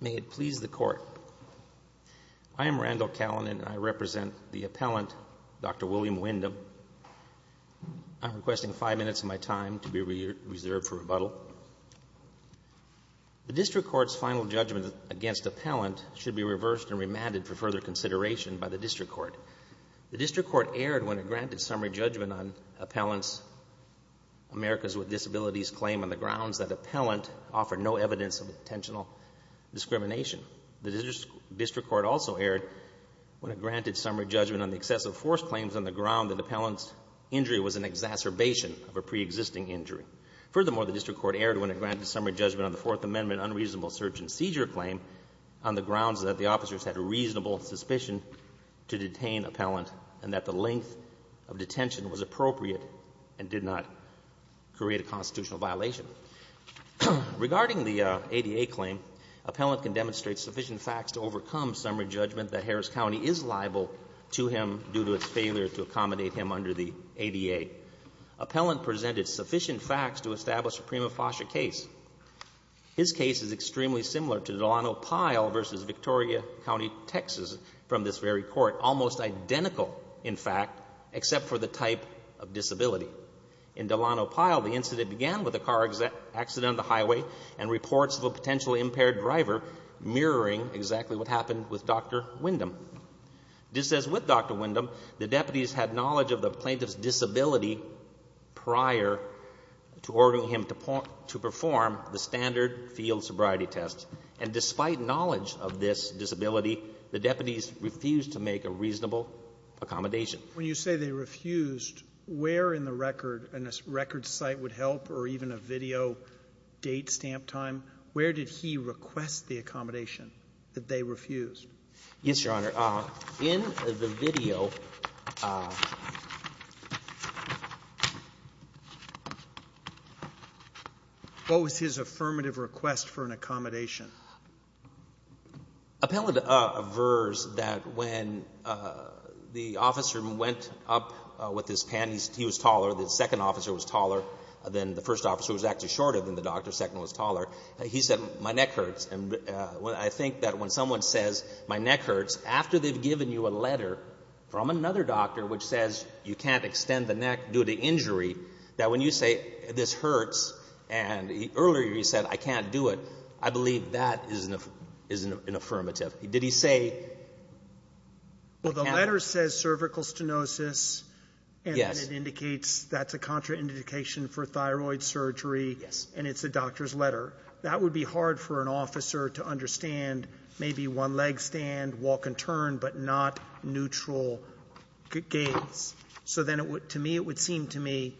May it please the Court. I am Randall Callinan and I represent the appellant, Dr. William Windham. I'm requesting five minutes of my time to be reserved for rebuttal. The District Court's final judgment against appellant should be reversed and remanded for further consideration by the District Court. The District Court erred when it granted summary judgment on appellant's Americas with Disabilities claim on the grounds that appellant offered no evidence of intentional discrimination. The District Court also erred when it granted summary judgment on the excessive force claims on the ground that appellant's injury was an exacerbation of a preexisting injury. Furthermore, the District Court erred when it granted summary judgment on the Fourth Amendment unreasonable search-and-seizure claim on the grounds that the officers had a reasonable suspicion to detain appellant and that the length of detention was appropriate and did not create a constitutional violation. Regarding the ADA claim, appellant can demonstrate sufficient facts to overcome summary judgment that Harris County is liable to him due to its failure to accommodate him under the ADA. Appellant presented sufficient facts to establish a prima facie case. His case is extremely similar to Delano Pyle v. Victoria County, Texas, from this very court, almost identical, in fact, except for the type of disability. In Delano Pyle, the incident began with a car accident on the highway and reports of a potentially impaired driver mirroring exactly what happened with Dr. Windham. Just as with Dr. Windham, the deputies had knowledge of the plaintiff's disability prior to ordering him to perform the standard field sobriety test. And despite knowledge of this disability, the deputies refused to make a reasonable accommodation. Robertson, when you say they refused, where in the record and a record site would help or even a video date stamp time, where did he request the accommodation that they refused? Yes, Your Honor. In the video, what was his affirmative request for an accommodation? Appellant aversed that when the officer went up with his panties, he was taller, the second officer was taller than the first officer, who was actually shorter than the doctor, the second was taller. He said, my neck hurts. And I think that when someone says, my neck hurts, after they've given you a letter from another doctor which says you can't extend the neck due to injury, that when you say, this hurts, and earlier you said, I can't do it, I believe that is an affirmative. Did he say, I can't do it? Well, the letter says cervical stenosis, and then it indicates that's a contraindication for thyroid surgery, and it's the doctor's letter. That would be hard for an officer to understand, maybe one leg stand, walk and turn, but not neutral gaze. So then it would, to me, it would seem to me,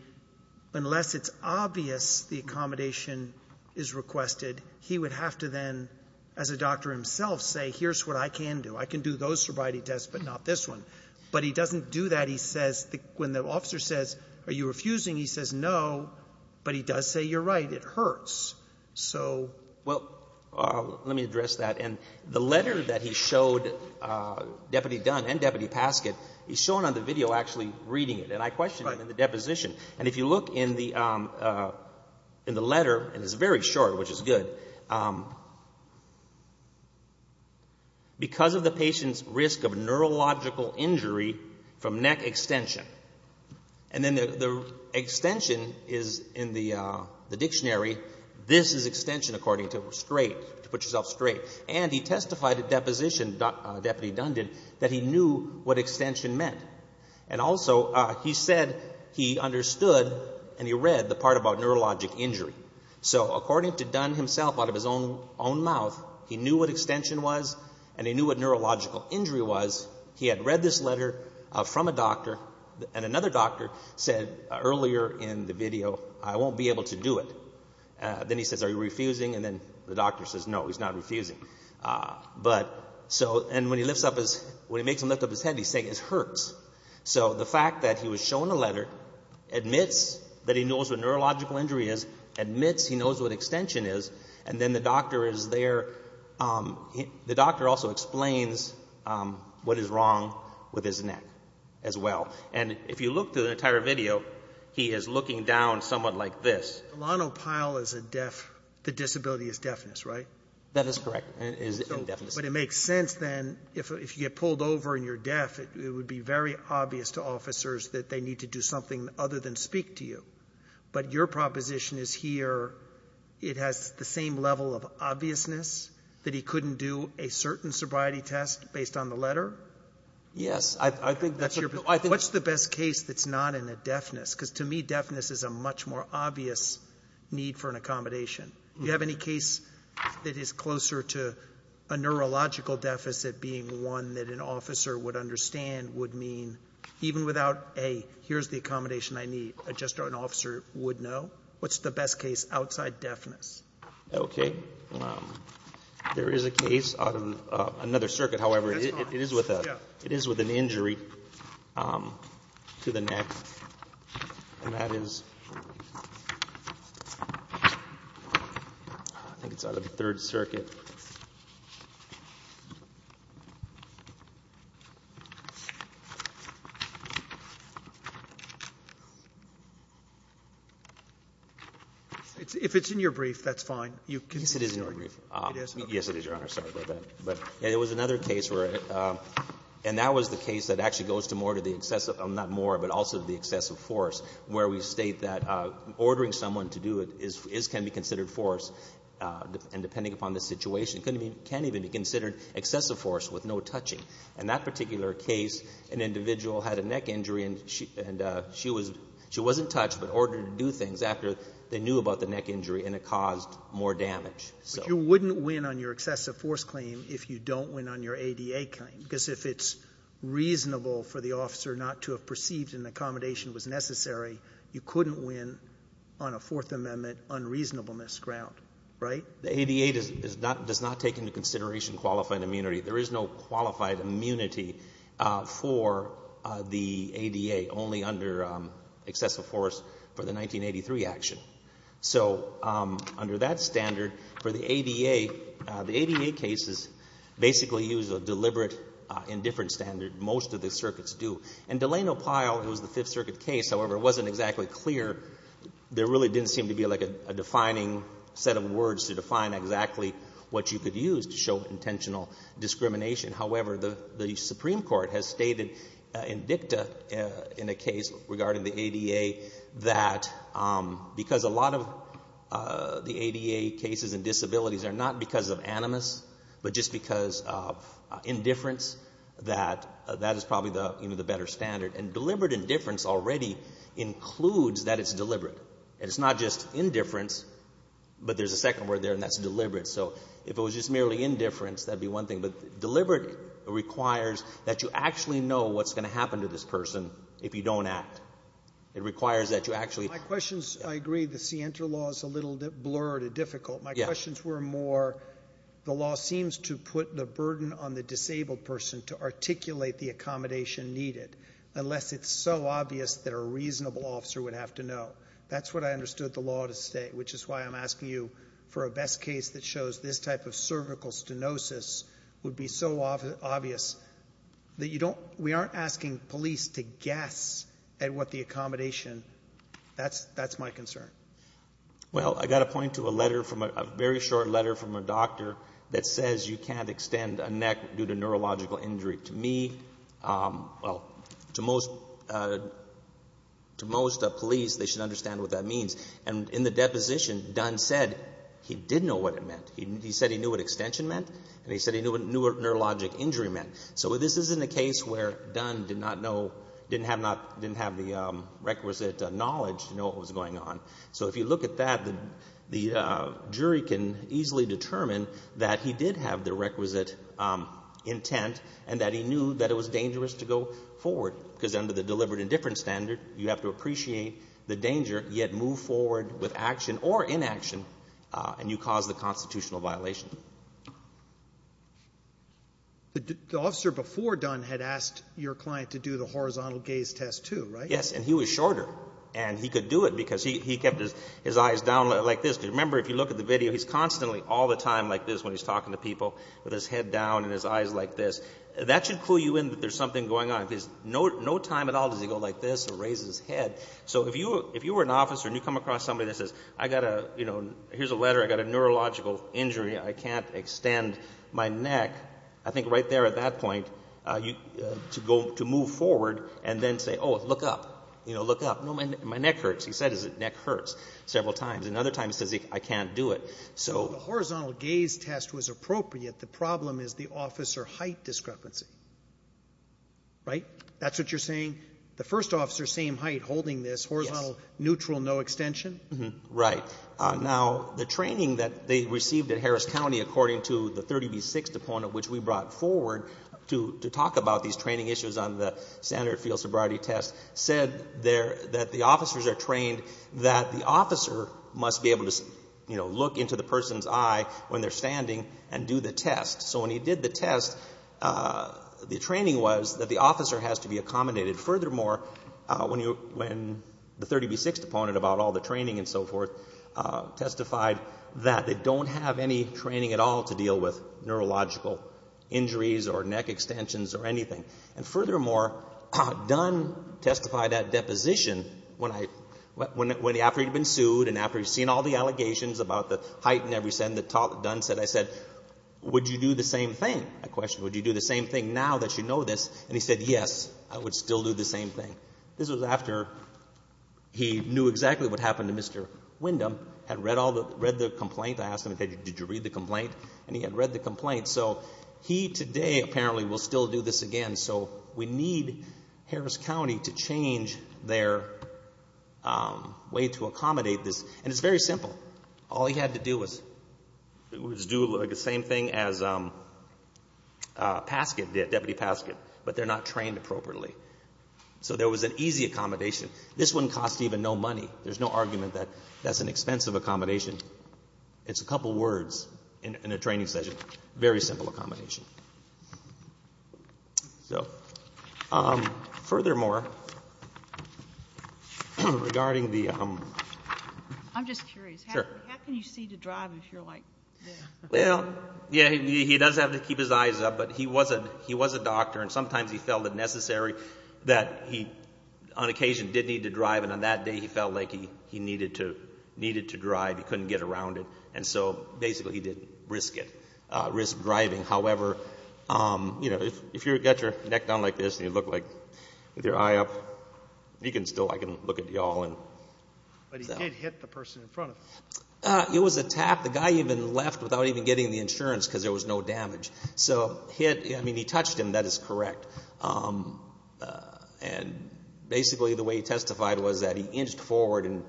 unless it's obvious the accommodation is requested, he would have to then, as a doctor himself, say, here's what I can do. I can do those sobriety tests, but not this one. But he doesn't do that. He says, when the officer says, are you refusing, he says, no, but he does say, you're right, it hurts. Well, let me address that. And the letter that he showed Deputy Dunn and Deputy Paskett, he's shown on the video actually reading it. And I questioned him in the deposition. And if you look in the letter, and it's very short, which is good, because of the patient's risk of neurological injury from neck extension, and then the extension is in the dictionary. This is extension, according to, straight, to put yourself straight. And he testified at deposition, Deputy Dunn did, that he knew what extension meant. And also, he said he understood, and he read, the part about neurologic injury. So according to Dunn himself, out of his own mouth, he knew what extension was, and he knew what neurological injury was. He had read this letter from a doctor, and another doctor said earlier in the video, I won't be able to do it. Then he says, are you refusing? And then the doctor says, no, he's not refusing. But, so, and when he lifts up his, when he makes him lift up his head, he's saying, it hurts. So the fact that he was shown a letter, admits that he knows what neurological injury is, admits he knows what extension is, and then the doctor is there, the doctor also explains what is wrong with his neck, as well. And if you look through the entire video, he is looking down somewhat like this. Alano Pyle is a deaf, the disability is deafness, right? That is correct. But it makes sense then, if you get pulled over and you're deaf, it would be very obvious to officers that they need to do something other than speak to you. But your proposition is here, it has the same level of obviousness, that he couldn't do a certain sobriety test based on the letter? Yes. I think that's a cool idea. What's the best case that's not in a deafness? Because to me, deafness is a much more obvious need for an accommodation. Do you have any case that is closer to a neurological deficit being one that an officer would understand would mean, even without, A, here's the accommodation I need, just an officer would know? What's the best case outside deafness? Okay. There is a case out of another circuit, however, it is with an injury to the neck. And that is, I think it's out of the Third Circuit. If it's in your brief, that's fine. Yes, it is in your brief. It is? Yes, it is, Your Honor. Sorry about that. But there was another case where, and that was the case that actually goes to more to the excessive, not more, but also to the excessive force, where we state that ordering someone to do it is, can be considered force. And depending upon the situation, it can even be considered excessive force with no touching. In that particular case, an individual had a neck injury and she wasn't touched, but ordered to do things after they knew about the neck injury and it caused more damage. But you wouldn't win on your excessive force claim if you don't win on your ADA claim, because if it's reasonable for the officer not to have perceived an accommodation was necessary, you couldn't win on a Fourth Amendment unreasonableness ground, right? The ADA does not take into consideration qualified immunity. There is no qualified immunity for the ADA, only under excessive force for the 1983 action. So under that standard, for the ADA, the ADA cases basically use a deliberate indifference standard. Most of the circuits do. In Delano Pyle, it was the Fifth Circuit case. However, it wasn't exactly clear. There really didn't seem to be like a defining set of words to define exactly what you could use to show intentional discrimination. However, the Supreme Court has stated in dicta in a case regarding the ADA that because a lot of the ADA cases and disabilities are not because of animus, but just because of indifference, that that is probably the better standard. And deliberate indifference already includes that it's deliberate. And it's not just indifference, but there's a second word there and that's deliberate. So if it was just merely indifference, that'd be one thing. But deliberate requires that you actually know what's going to happen to this person if you don't act. It requires that you actually... My questions, I agree, the scienter law is a little bit blurred and difficult. My questions were more, the law seems to put the burden on the disabled person to articulate the accommodation needed, unless it's so obvious that a reasonable officer would have to know. That's what I understood the law to say, which is why I'm asking you for a best case that shows this type of cervical stenosis would be so obvious that you don't we aren't asking police to guess at what the accommodation, that's my concern. Well, I got a point to a letter from a very short letter from a doctor that says you can't extend a neck due to neurological injury. To me, well, to most, to most police, they should understand what that means. And in the deposition, Dunn said he did know what it meant. He said he knew what extension meant. And he said he knew what neurologic injury meant. So this isn't a case where Dunn did not know, didn't have the requisite knowledge to know what was going on. So if you look at that, the jury can easily determine that he did have the requisite intent and that he knew that it was dangerous to go forward, because under the with action or inaction, and you cause the constitutional violation. But the officer before Dunn had asked your client to do the horizontal gaze test, too, right? Yes. And he was shorter. And he could do it because he kept his eyes down like this. Because remember, if you look at the video, he's constantly all the time like this when he's talking to people, with his head down and his eyes like this. That should clue you in that there's something going on. Because no time at all does he go like this or raise his head. So if you were an officer and you come across somebody that says, here's a letter, I got a neurological injury, I can't extend my neck, I think right there at that point, to move forward and then say, oh, look up, look up. No, my neck hurts. He said his neck hurts several times. And other times he says, I can't do it. So the horizontal gaze test was appropriate. The problem is the officer height discrepancy, right? That's what you're saying? The first officer, same height, holding this, horizontal, neutral, no extension? Right. Now, the training that they received at Harris County, according to the 30b6 deponent, which we brought forward to talk about these training issues on the standard field sobriety test, said that the officers are trained that the officer must be able to look into the person's eye when they're standing and do the test. So when he did the test, the training was that the officer has to be accommodated furthermore, when the 30b6 deponent, about all the training and so forth, testified that they don't have any training at all to deal with neurological injuries or neck extensions or anything. And furthermore, Dunn testified that deposition, after he'd been sued and after he'd seen all the allegations about the height and everything, Dunn said, I said, would you do the same thing? I questioned, would you do the same thing now that you know this? And he said, yes, I would still do the same thing. This was after he knew exactly what happened to Mr. Windham, had read all the, read the complaint. I asked him, did you read the complaint? And he had read the complaint. So he today, apparently, will still do this again. So we need Harris County to change their way to accommodate this. And it's very simple. All he had to do was do the same thing as Paskett did, Deputy Paskett. But they're not trained appropriately. So there was an easy accommodation. This wouldn't cost even no money. There's no argument that that's an expensive accommodation. It's a couple words in a training session. Very simple accommodation. So furthermore, regarding the... I'm just curious. Sure. How can you see to drive if you're like... Well, yeah, he does have to keep his eyes up. But he was a doctor. And sometimes he felt it necessary that he, on occasion, did need to drive. And on that day, he felt like he needed to drive. He couldn't get around it. And so basically, he didn't risk it, risk driving. However, you know, if you've got your neck down like this and you look like with your eye up, you can still, I can look at you all and... But he did hit the person in front of him. It was a tap. The guy even left without even getting the insurance because there was no damage. So he had... I mean, he touched him. That is correct. And basically, the way he testified was that he inched forward and,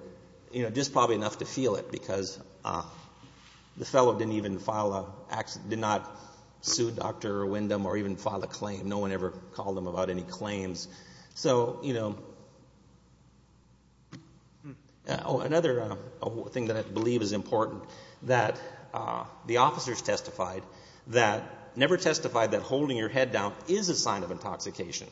you know, just probably enough to feel it because the fellow didn't even file a... did not sue Dr. Wyndham or even file a claim. No one ever called him about any claims. So, you know, another thing that I believe is important that the officers testified that never testified that holding your head down is a sign of intoxication.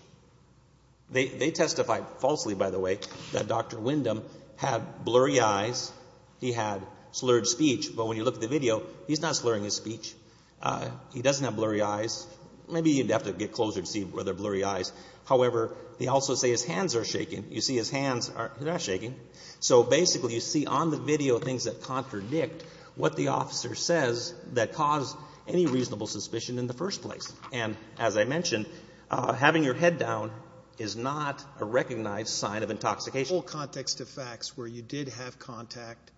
They testified falsely, by the way, that Dr. Wyndham had blurry eyes. He had slurred speech. But when you look at the video, he's not slurring his speech. He doesn't have blurry eyes. Maybe you'd have to get closer to see whether they're blurry eyes. However, they also say his hands are shaking. You see his hands are shaking. So basically, you see on the video things that contradict what the officer says that cause any reasonable suspicion in the first place. And as I mentioned, having your head down is not a recognized sign of intoxication. The whole context of facts where you did have contact,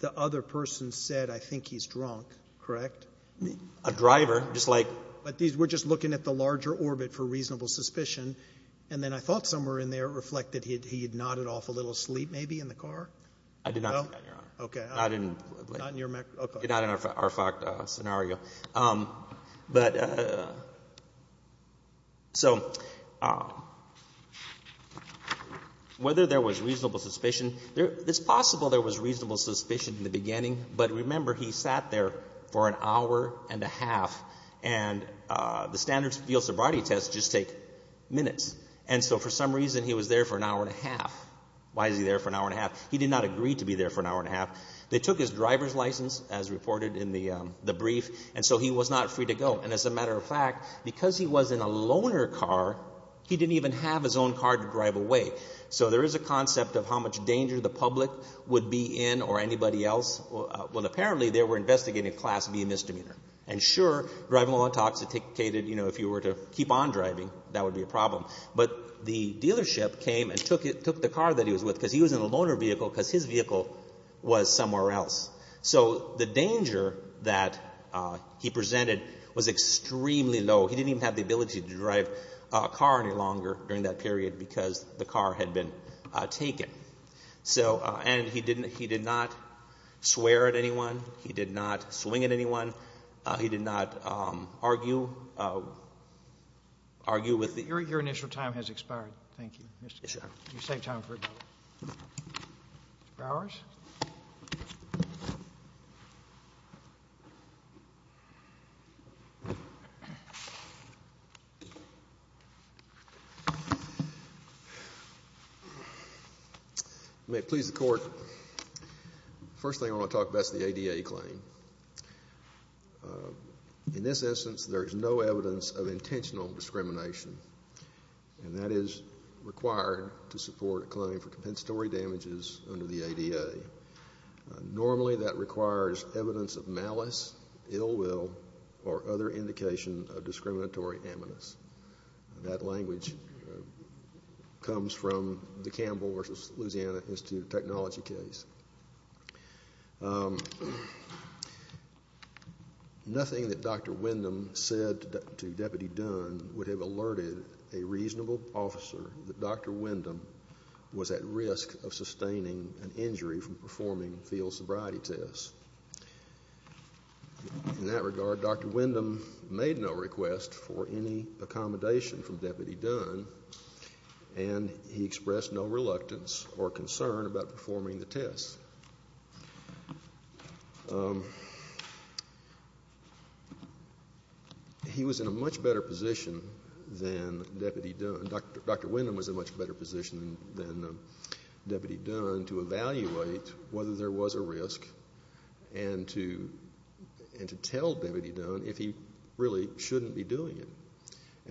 the other person said, I think he's drunk, correct? A driver, just like... But we're just looking at the larger orbit for reasonable suspicion. And then I thought somewhere in there it reflected he had nodded off a little asleep maybe in the car. No? I did not, Your Honor. Okay. I didn't. Not in your memory. Okay. Not in our fact scenario. But so whether there was reasonable suspicion, it's possible there was reasonable suspicion in the beginning. But remember, he sat there for an hour and a half. And the standard field sobriety tests just take minutes. And so for some reason, he was there for an hour and a half. Why is he there for an hour and a half? He did not agree to be there for an hour and a half. They took his driver's license as reported in the brief. And so he was not free to go. And as a matter of fact, because he was in a loner car, he didn't even have his own car to drive away. So there is a concept of how much danger the public would be in or anybody else. Well, apparently, they were investigating class B misdemeanor. And sure, driving while intoxicated, you know, if you were to keep on driving, that would be a problem. But the dealership came and took the car that he was with because he was in a loner vehicle because his vehicle was somewhere else. So the danger that he presented was extremely low. He didn't even have the ability to drive a car any longer during that period because the car had been taken. So and he didn't he did not swear at anyone. He did not swing at anyone. He did not argue. Argue with the. Your initial time has expired. Thank you, Mr. You save time for Mr. You may please the court. First thing I want to talk about is the ADA claim. In this instance, there is no evidence of intentional discrimination, and that is required to support a claim for compensatory damages under the ADA. Normally, that requires evidence of malice, ill will or other indication of discriminatory amicus. That language comes from the Campbell versus Louisiana Institute of Technology case. Nothing that Dr. Windham said to Deputy Dunn would have alerted a reasonable officer that Dr. from performing field sobriety tests. In that regard, Dr. Windham made no request for any accommodation from Deputy Dunn, and he expressed no reluctance or concern about performing the tests. He was in a much better position than Deputy Dunn. Dr. Windham was in a much better position than Deputy Dunn to evaluate whether there was a risk and to tell Deputy Dunn if he really shouldn't be doing it.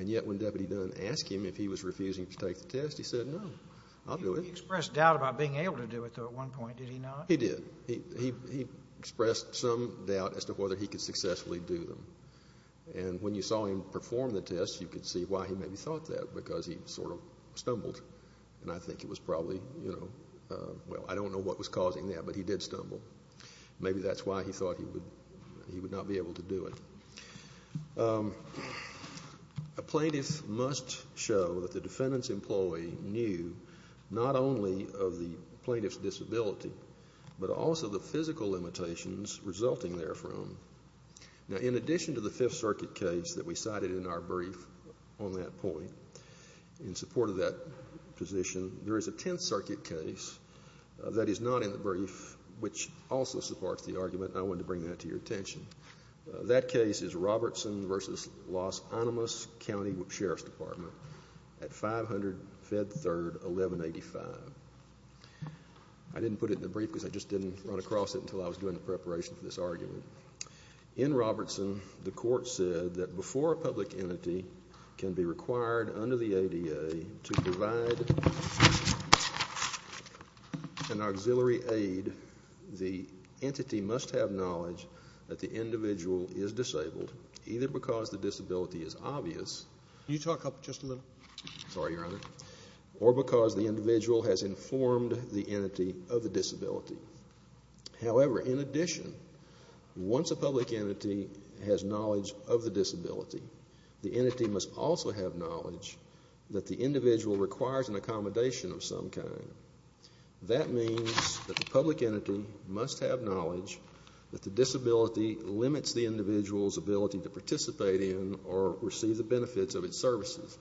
Yet, when Deputy Dunn asked him if he was refusing to take the test, he said, no, I'll do it. He expressed doubt about being able to do it, though, at one point, did he not? He did. He expressed some doubt as to whether he could successfully do them. And when you saw him perform the tests, you could see why he maybe thought that, because he sort of stumbled. And I think it was probably, you know, well, I don't know what was causing that, but he did stumble. Maybe that's why he thought he would not be able to do it. A plaintiff must show that the defendant's employee knew not only of the plaintiff's disability, but also the physical limitations resulting therefrom. Now, in addition to the Fifth Circuit case that we cited in our brief on that point, in support of that position, there is a Tenth Circuit case that is not in the brief which also supports the argument, and I wanted to bring that to your attention. That case is Robertson v. Los Alamos County Sheriff's Department at 500 Fed Third 1185. I didn't put it in the brief because I just didn't run across it until I was doing the preparation for this argument. In Robertson, the court said that before a public entity can be required under the ADA to provide an auxiliary aid, the entity must have knowledge that the individual is disabled, either because the disability is obvious. Can you talk up just a little? Sorry, Your Honor. Or because the individual has informed the entity of the disability. However, in addition, once a public entity has knowledge of the disability, the entity must also have knowledge that the individual requires an accommodation of some kind. That means that the public entity must have knowledge that the disability limits the individual's ability to participate in or receive the benefits of its services.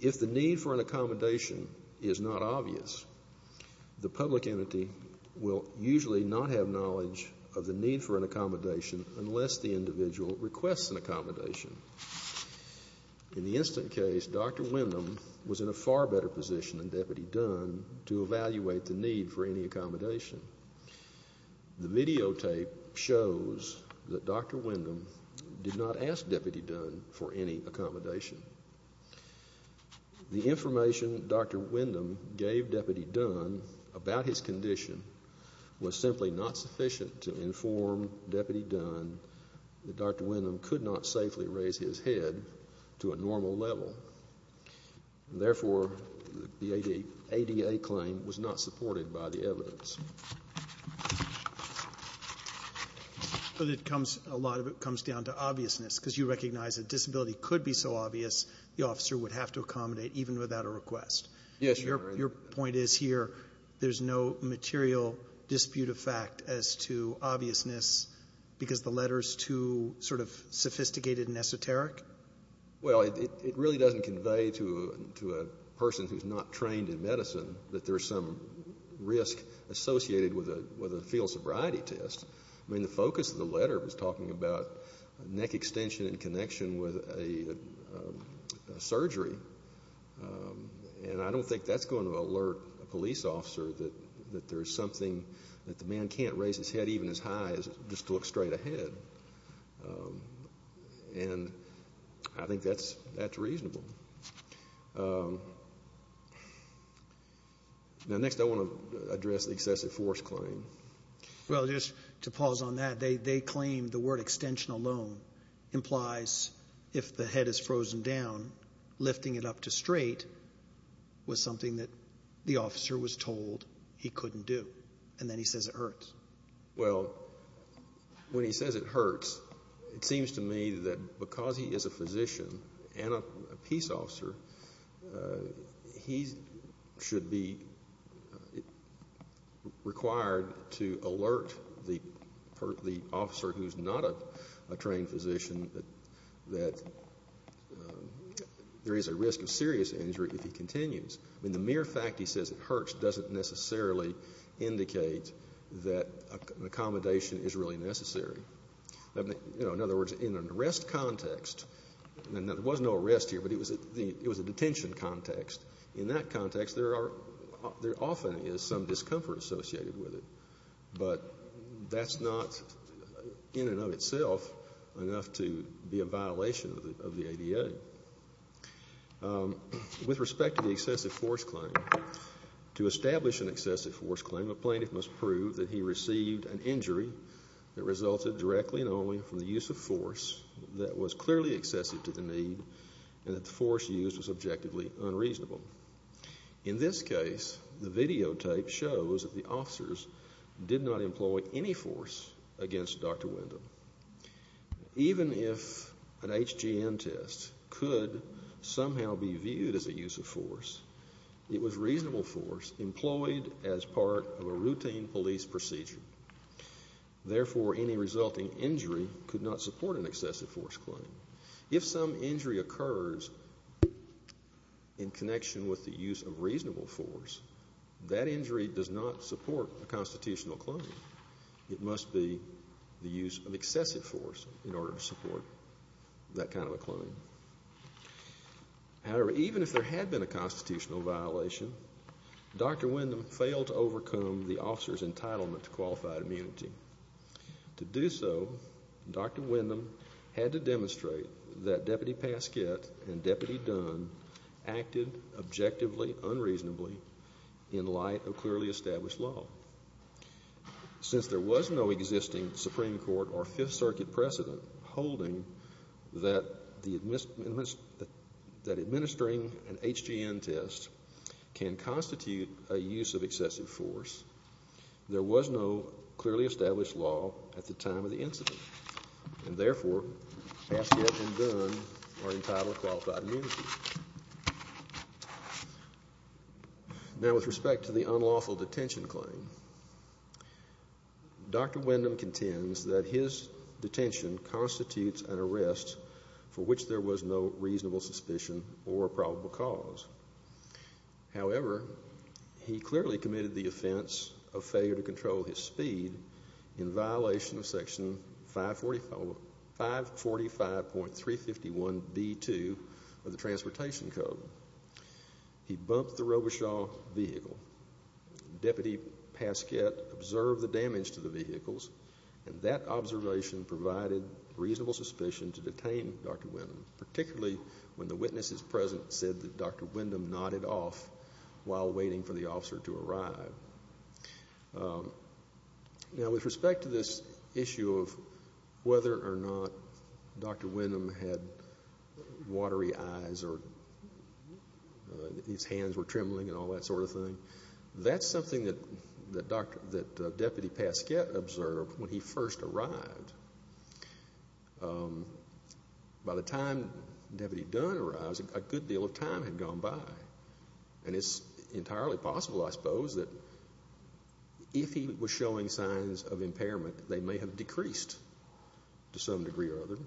If the need for an accommodation is not obvious, the public entity will usually not have knowledge of the need for an accommodation unless the individual requests an accommodation. In the instant case, Dr. Windham was in a far better position than Deputy Dunn to evaluate the need for any accommodation. The videotape shows that Dr. Windham did not ask Deputy Dunn for any accommodation. The information Dr. Windham gave Deputy Dunn about his condition was simply not sufficient to inform Deputy Dunn that Dr. Windham could not safely raise his head to a normal level. Therefore, the ADA claim was not supported by the evidence. But it comes, a lot of it comes down to obviousness, because you recognize that disability could be so obvious, the officer would have to accommodate even without a request. Yes, Your Honor. Your point is here, there's no material dispute of fact as to obviousness because the letter's too sort of sophisticated and esoteric? Well, it really doesn't convey to a person who's not trained in medicine that there's some risk associated with a fetal sobriety test. I mean, the focus of the letter was talking about neck extension in connection with a surgery. And I don't think that's going to alert a police officer that there's something that the man can't raise his head even as high as just to look straight ahead. And I think that's reasonable. Now, next I want to address the excessive force claim. Well, just to pause on that, they claim the word extension alone implies if the head is frozen down, lifting it up to straight was something that the officer was told he couldn't do. And then he says it hurts. Well, when he says it hurts, it seems to me that because he is a physician and a peace officer, he's required to alert the officer who's not a trained physician that there is a risk of serious injury if he continues. I mean, the mere fact he says it hurts doesn't necessarily indicate that an accommodation is really necessary. In other words, in an arrest context, and there was no arrest here, but it was a detention context, in that context there often is some discomfort associated with it. But that's not in and of itself enough to be a violation of the ADA. With respect to the excessive force claim, to establish an excessive force claim, a plaintiff must prove that he received an injury that resulted directly and only from the use of force. In this case, the videotape shows that the officers did not employ any force against Dr. Windham. Even if an HGN test could somehow be viewed as a use of force, it was reasonable force employed as part of a routine police procedure. Therefore, any resulting injury could not support an excessive force claim. If some injury occurs in connection with the use of reasonable force, that injury does not support a constitutional claim. It must be the use of excessive force in order to support that kind of a claim. However, even if there had been a constitutional violation, Dr. Windham failed to overcome the officer's entitlement to qualified immunity. To do so, Dr. Windham had to demonstrate that Deputy Pasquette and Deputy Dunn acted objectively unreasonably in light of clearly established law. Since there was no existing Supreme Court or Fifth Circuit precedent holding that administering an HGN test can constitute a use of excessive force, there was no clearly established law at the time of the incident. Therefore, Pasquette and Dunn are entitled to qualified immunity. Now, with respect to the unlawful detention claim, Dr. Windham contends that his detention constitutes an arrest for which there was no reasonable suspicion or probable cause. However, he clearly committed the offense of failure to control his speed in violation of Section 545.351b2 of the Transportation Code. He bumped the Robuchaw vehicle. Deputy Pasquette observed the damage to the vehicles, and that observation provided reasonable suspicion to detain Dr. Windham, particularly when the witnesses present said that Dr. Windham nodded off while waiting for the officer to arrive. Now, with respect to this issue of whether or not Dr. Windham had watery eyes or his That's something that Deputy Pasquette observed when he first arrived. By the time Deputy Dunn arrived, a good deal of time had gone by, and it's entirely possible, I suppose, that if he was showing signs of impairment, they may have decreased to some degree or other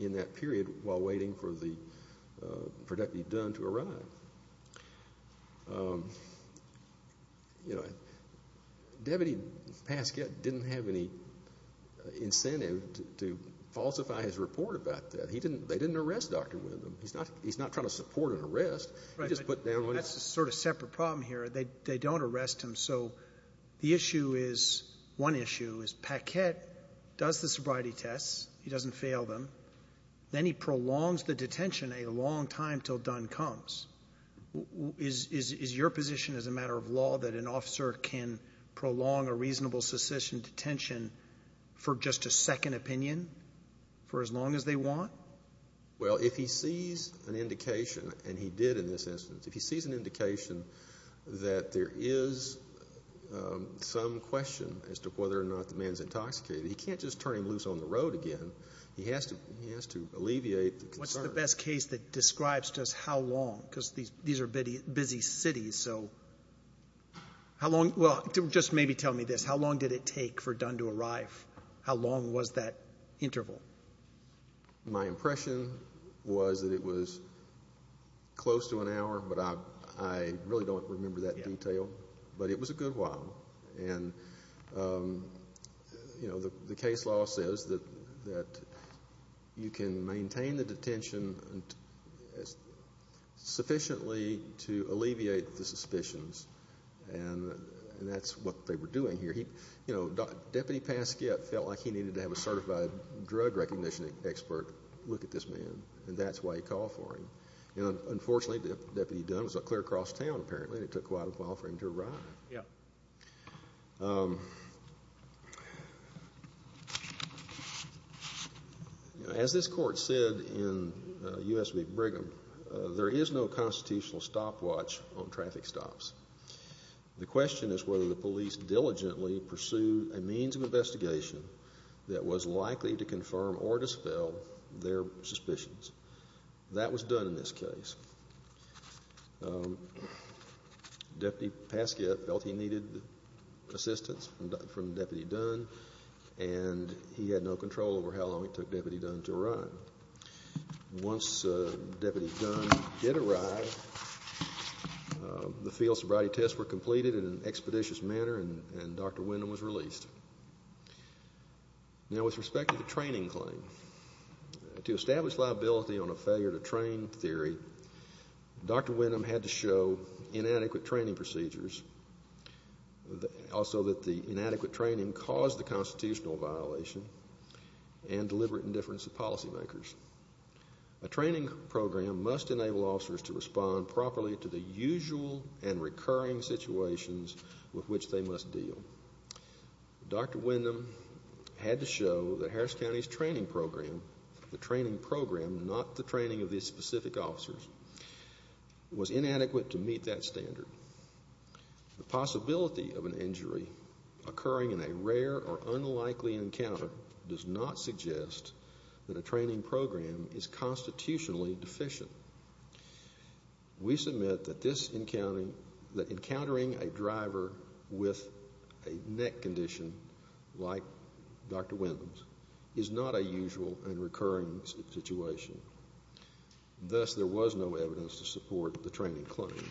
in that period while waiting for Deputy Dunn to arrive. You know, Deputy Pasquette didn't have any incentive to falsify his report about that. He didn't. They didn't arrest Dr. Windham. He's not. He's not trying to support an arrest. He just put down. That's a sort of separate problem here. They don't arrest him. So the issue is, one issue is, Pasquette does the sobriety tests. He doesn't fail them. Then he prolongs the detention a long time till Dunn comes. Is your position as a matter of law that an officer can prolong a reasonable secession detention for just a second opinion for as long as they want? Well, if he sees an indication, and he did in this instance, if he sees an indication that there is some question as to whether or not the man's intoxicated, he can't just turn him loose on the road again. He has to alleviate the concern. What's the best case that describes just how long? Because these are busy cities. So how long? Well, just maybe tell me this. How long did it take for Dunn to arrive? How long was that interval? My impression was that it was close to an hour. But I really don't remember that detail. But it was a good while. And the case law says that you can maintain the detention sufficiently to alleviate the suspicions. And that's what they were doing here. Deputy Pasquette felt like he needed to have a certified drug recognition expert look at this man. And that's why he called for him. Unfortunately, Deputy Dunn was clear across town, apparently. It took quite a while for him to arrive. Yeah. As this court said in U.S. v. Brigham, there is no constitutional stopwatch on traffic stops. The question is whether the police diligently pursued a means of investigation that was likely to confirm or dispel their suspicions. That was done in this case. Deputy Pasquette felt he needed assistance from Deputy Dunn. And he had no control over how long it took Deputy Dunn to arrive. Once Deputy Dunn did arrive, the field sobriety tests were completed in an expeditious manner, and Dr. Windham was released. Now, with respect to the training claim, to establish liability on a failure to train theory Dr. Windham had to show inadequate training procedures, also that the inadequate training caused the constitutional violation, and deliberate indifference of policymakers. A training program must enable officers to respond properly to the usual and recurring situations with which they must deal. Dr. Windham had to show that Harris County's training program, the training program, not the training of these specific officers, was inadequate to meet that standard. The possibility of an injury occurring in a rare or unlikely encounter does not suggest that a training program is constitutionally deficient. We submit that this encountering a driver with a neck condition like Dr. Windham's is not a usual and recurring situation. Thus, there was no evidence to support the training claim.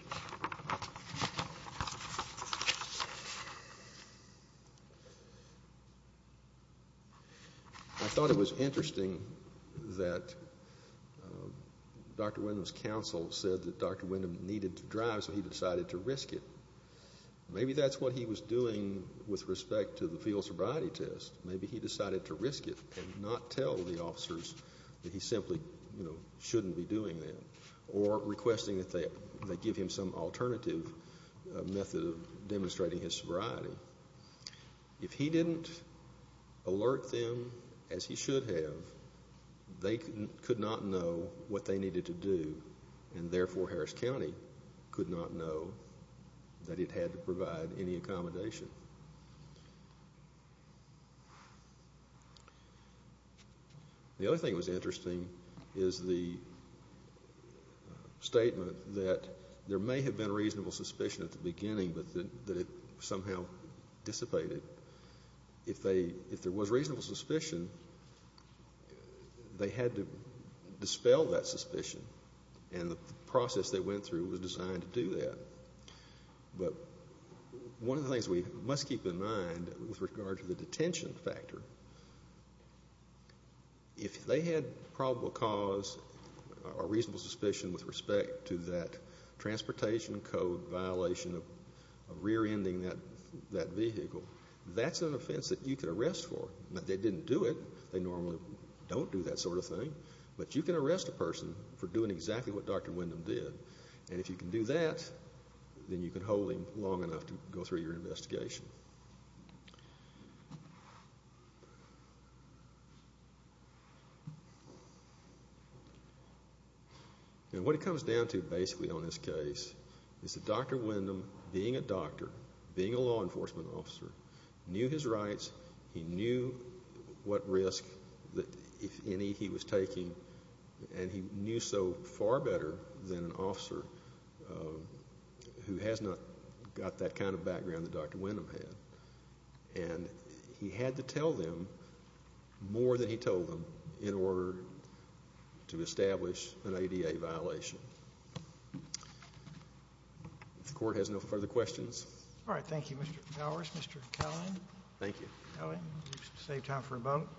I thought it was interesting that Dr. Windham's counsel said that Dr. Windham needed to drive, so he decided to risk it. Maybe that's what he was doing with respect to the field sobriety test. Maybe he decided to risk it and not tell the officers that he simply shouldn't be doing that, or requesting that they give him some alternative method of demonstrating his sobriety. If he didn't alert them as he should have, they could not know what they needed to do, and therefore Harris County could not know that it had to provide any accommodation. The other thing that was interesting is the statement that there may have been reasonable suspicion at the beginning, but that it somehow dissipated. If there was reasonable suspicion, they had to dispel that suspicion, and the process they went through was designed to do that. Keep in mind, with regard to the detention factor, if they had probable cause or reasonable suspicion with respect to that transportation code violation of rear-ending that vehicle, that's an offense that you could arrest for. They didn't do it. They normally don't do that sort of thing, but you can arrest a person for doing exactly what Dr. Windham did. If you can do that, then you can hold him long enough to go through your investigation. Now, what it comes down to basically on this case is that Dr. Windham, being a doctor, being a law enforcement officer, knew his rights. He knew what risk, if any, he was taking, and he had to tell them more than he told them in order to establish an ADA violation. If the court has no further questions. All right. Thank you, Mr. Gowers. Mr. Kellen. Thank you. Save time for a moment.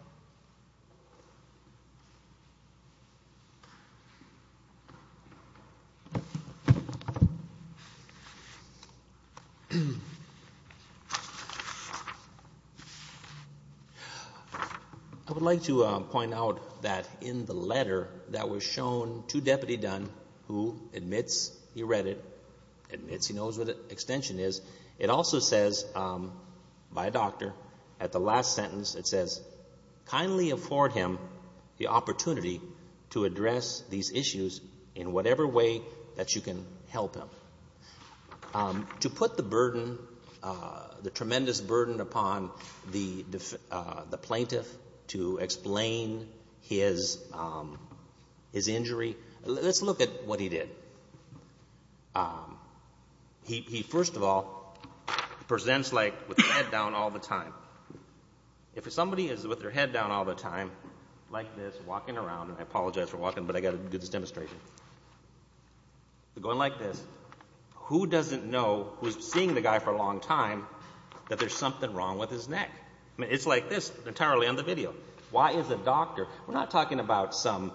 I would like to point out that in the letter that was shown to Deputy Dunn, who admits he read it, admits he knows what the extension is, it also says, by a doctor, at the last sentence, it says, kindly afford him the opportunity to address these issues in whatever way that you can help him. To put the burden, the tremendous burden upon the plaintiff to explain his injury, let's look at what he did. He, first of all, presents like with his head down all the time. If somebody is with their head down all the time, like this, walking around, and I apologize for walking, but I got to do this demonstration. Going like this, who doesn't know, who's seeing the guy for a long time, that there's something wrong with his neck? I mean, it's like this entirely on the video. Why is a doctor, we're not talking about some,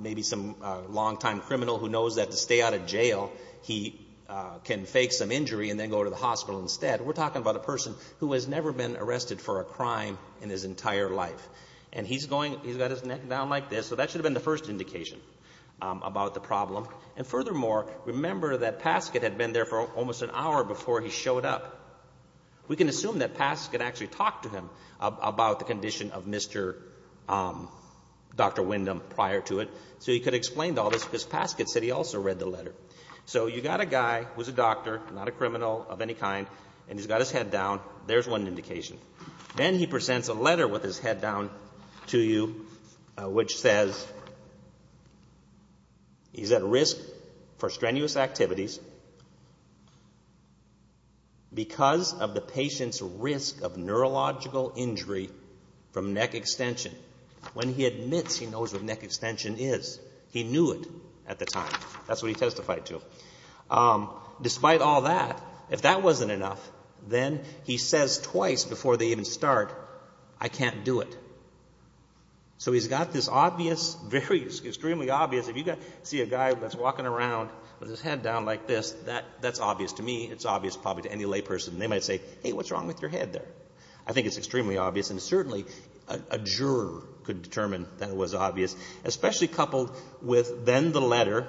maybe some long-time criminal who knows that to stay out of jail, he can fake some injury and then go to the hospital instead. We're talking about a person who has never been arrested for a crime in his entire life. And he's going, he's got his neck down like this, so that should have been the first indication about the problem. And furthermore, remember that Paskett had been there for almost an hour before he showed up. We can assume that Paskett actually talked to him about the condition of Mr. Um, Dr. Windham prior to it. So he could explain all this because Paskett said he also read the letter. So you got a guy who's a doctor, not a criminal of any kind, and he's got his head down, there's one indication. Then he presents a letter with his head down to you, which says, he's at risk for strenuous activities because of the patient's risk of neurological injury from neck extension. When he admits he knows what neck extension is, he knew it at the time. That's what he testified to. Um, despite all that, if that wasn't enough, then he says twice before they even start, I can't do it. So he's got this obvious, very extremely obvious, if you see a guy that's walking around with his head down like this, that's obvious to me. It's obvious probably to any lay person. They might say, hey, what's wrong with your head there? I think it's extremely obvious. And certainly a juror could determine that it was obvious, especially coupled with then the letter.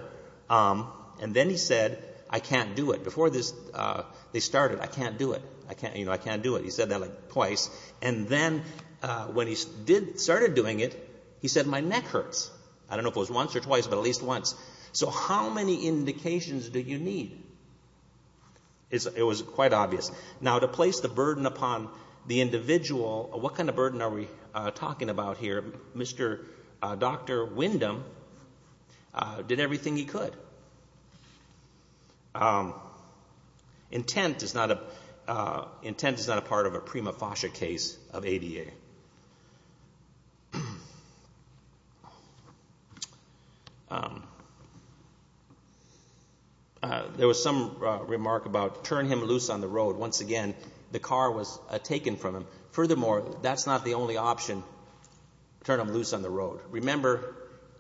Um, and then he said, I can't do it. Before this, uh, they started, I can't do it. I can't, you know, I can't do it. He said that like twice. And then, uh, when he did, started doing it, he said, my neck hurts. I don't know if it was once or twice, but at least once. So how many indications do you need? It was quite obvious. Now to place the burden upon the individual, what kind of burden are we talking about here? Mr, uh, Dr. Windham, uh, did everything he could. Um, intent is not a, uh, intent is not a part of a prima facie case of ADA. Um, uh, there was some, uh, remark about turn him loose on the road. Once again, the car was taken from him. Furthermore, that's not the only option. Turn him loose on the road. Remember,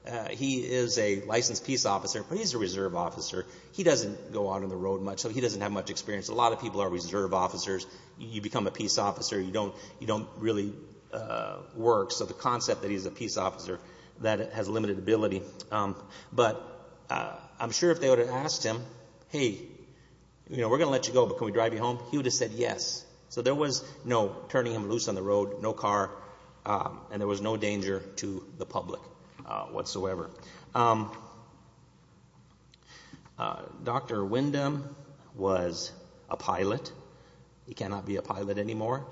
uh, he is a licensed peace officer, but he's a reserve officer. He doesn't go out on the road much. So he doesn't have much experience. A lot of people are reserve officers. You don't, you don't really, you don't have much experience. Uh, works of the concept that he's a peace officer that has limited ability. Um, but, uh, I'm sure if they would have asked him, hey, you know, we're going to let you go, but can we drive you home? He would have said yes. So there was no turning him loose on the road, no car. Um, and there was no danger to the public, uh, whatsoever. Um, uh, Dr. Windham was a pilot. He cannot be a pilot anymore.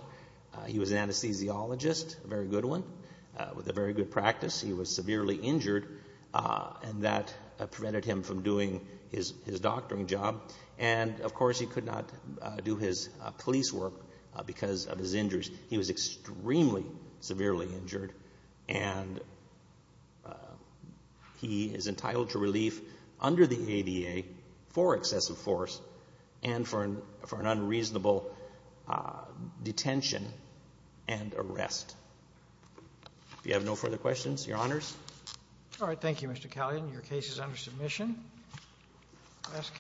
He was an anesthesiologist, a very good one, uh, with a very good practice. He was severely injured, uh, and that prevented him from doing his, his doctoring job. And of course he could not do his police work because of his injuries. He was extremely severely injured and, uh, he is entitled to relief under the ADA for excessive force and for an, for an unreasonable, uh, detention and arrest. If you have no further questions, Your Honors. All right. Thank you, Mr. Callion. Your case is under submission.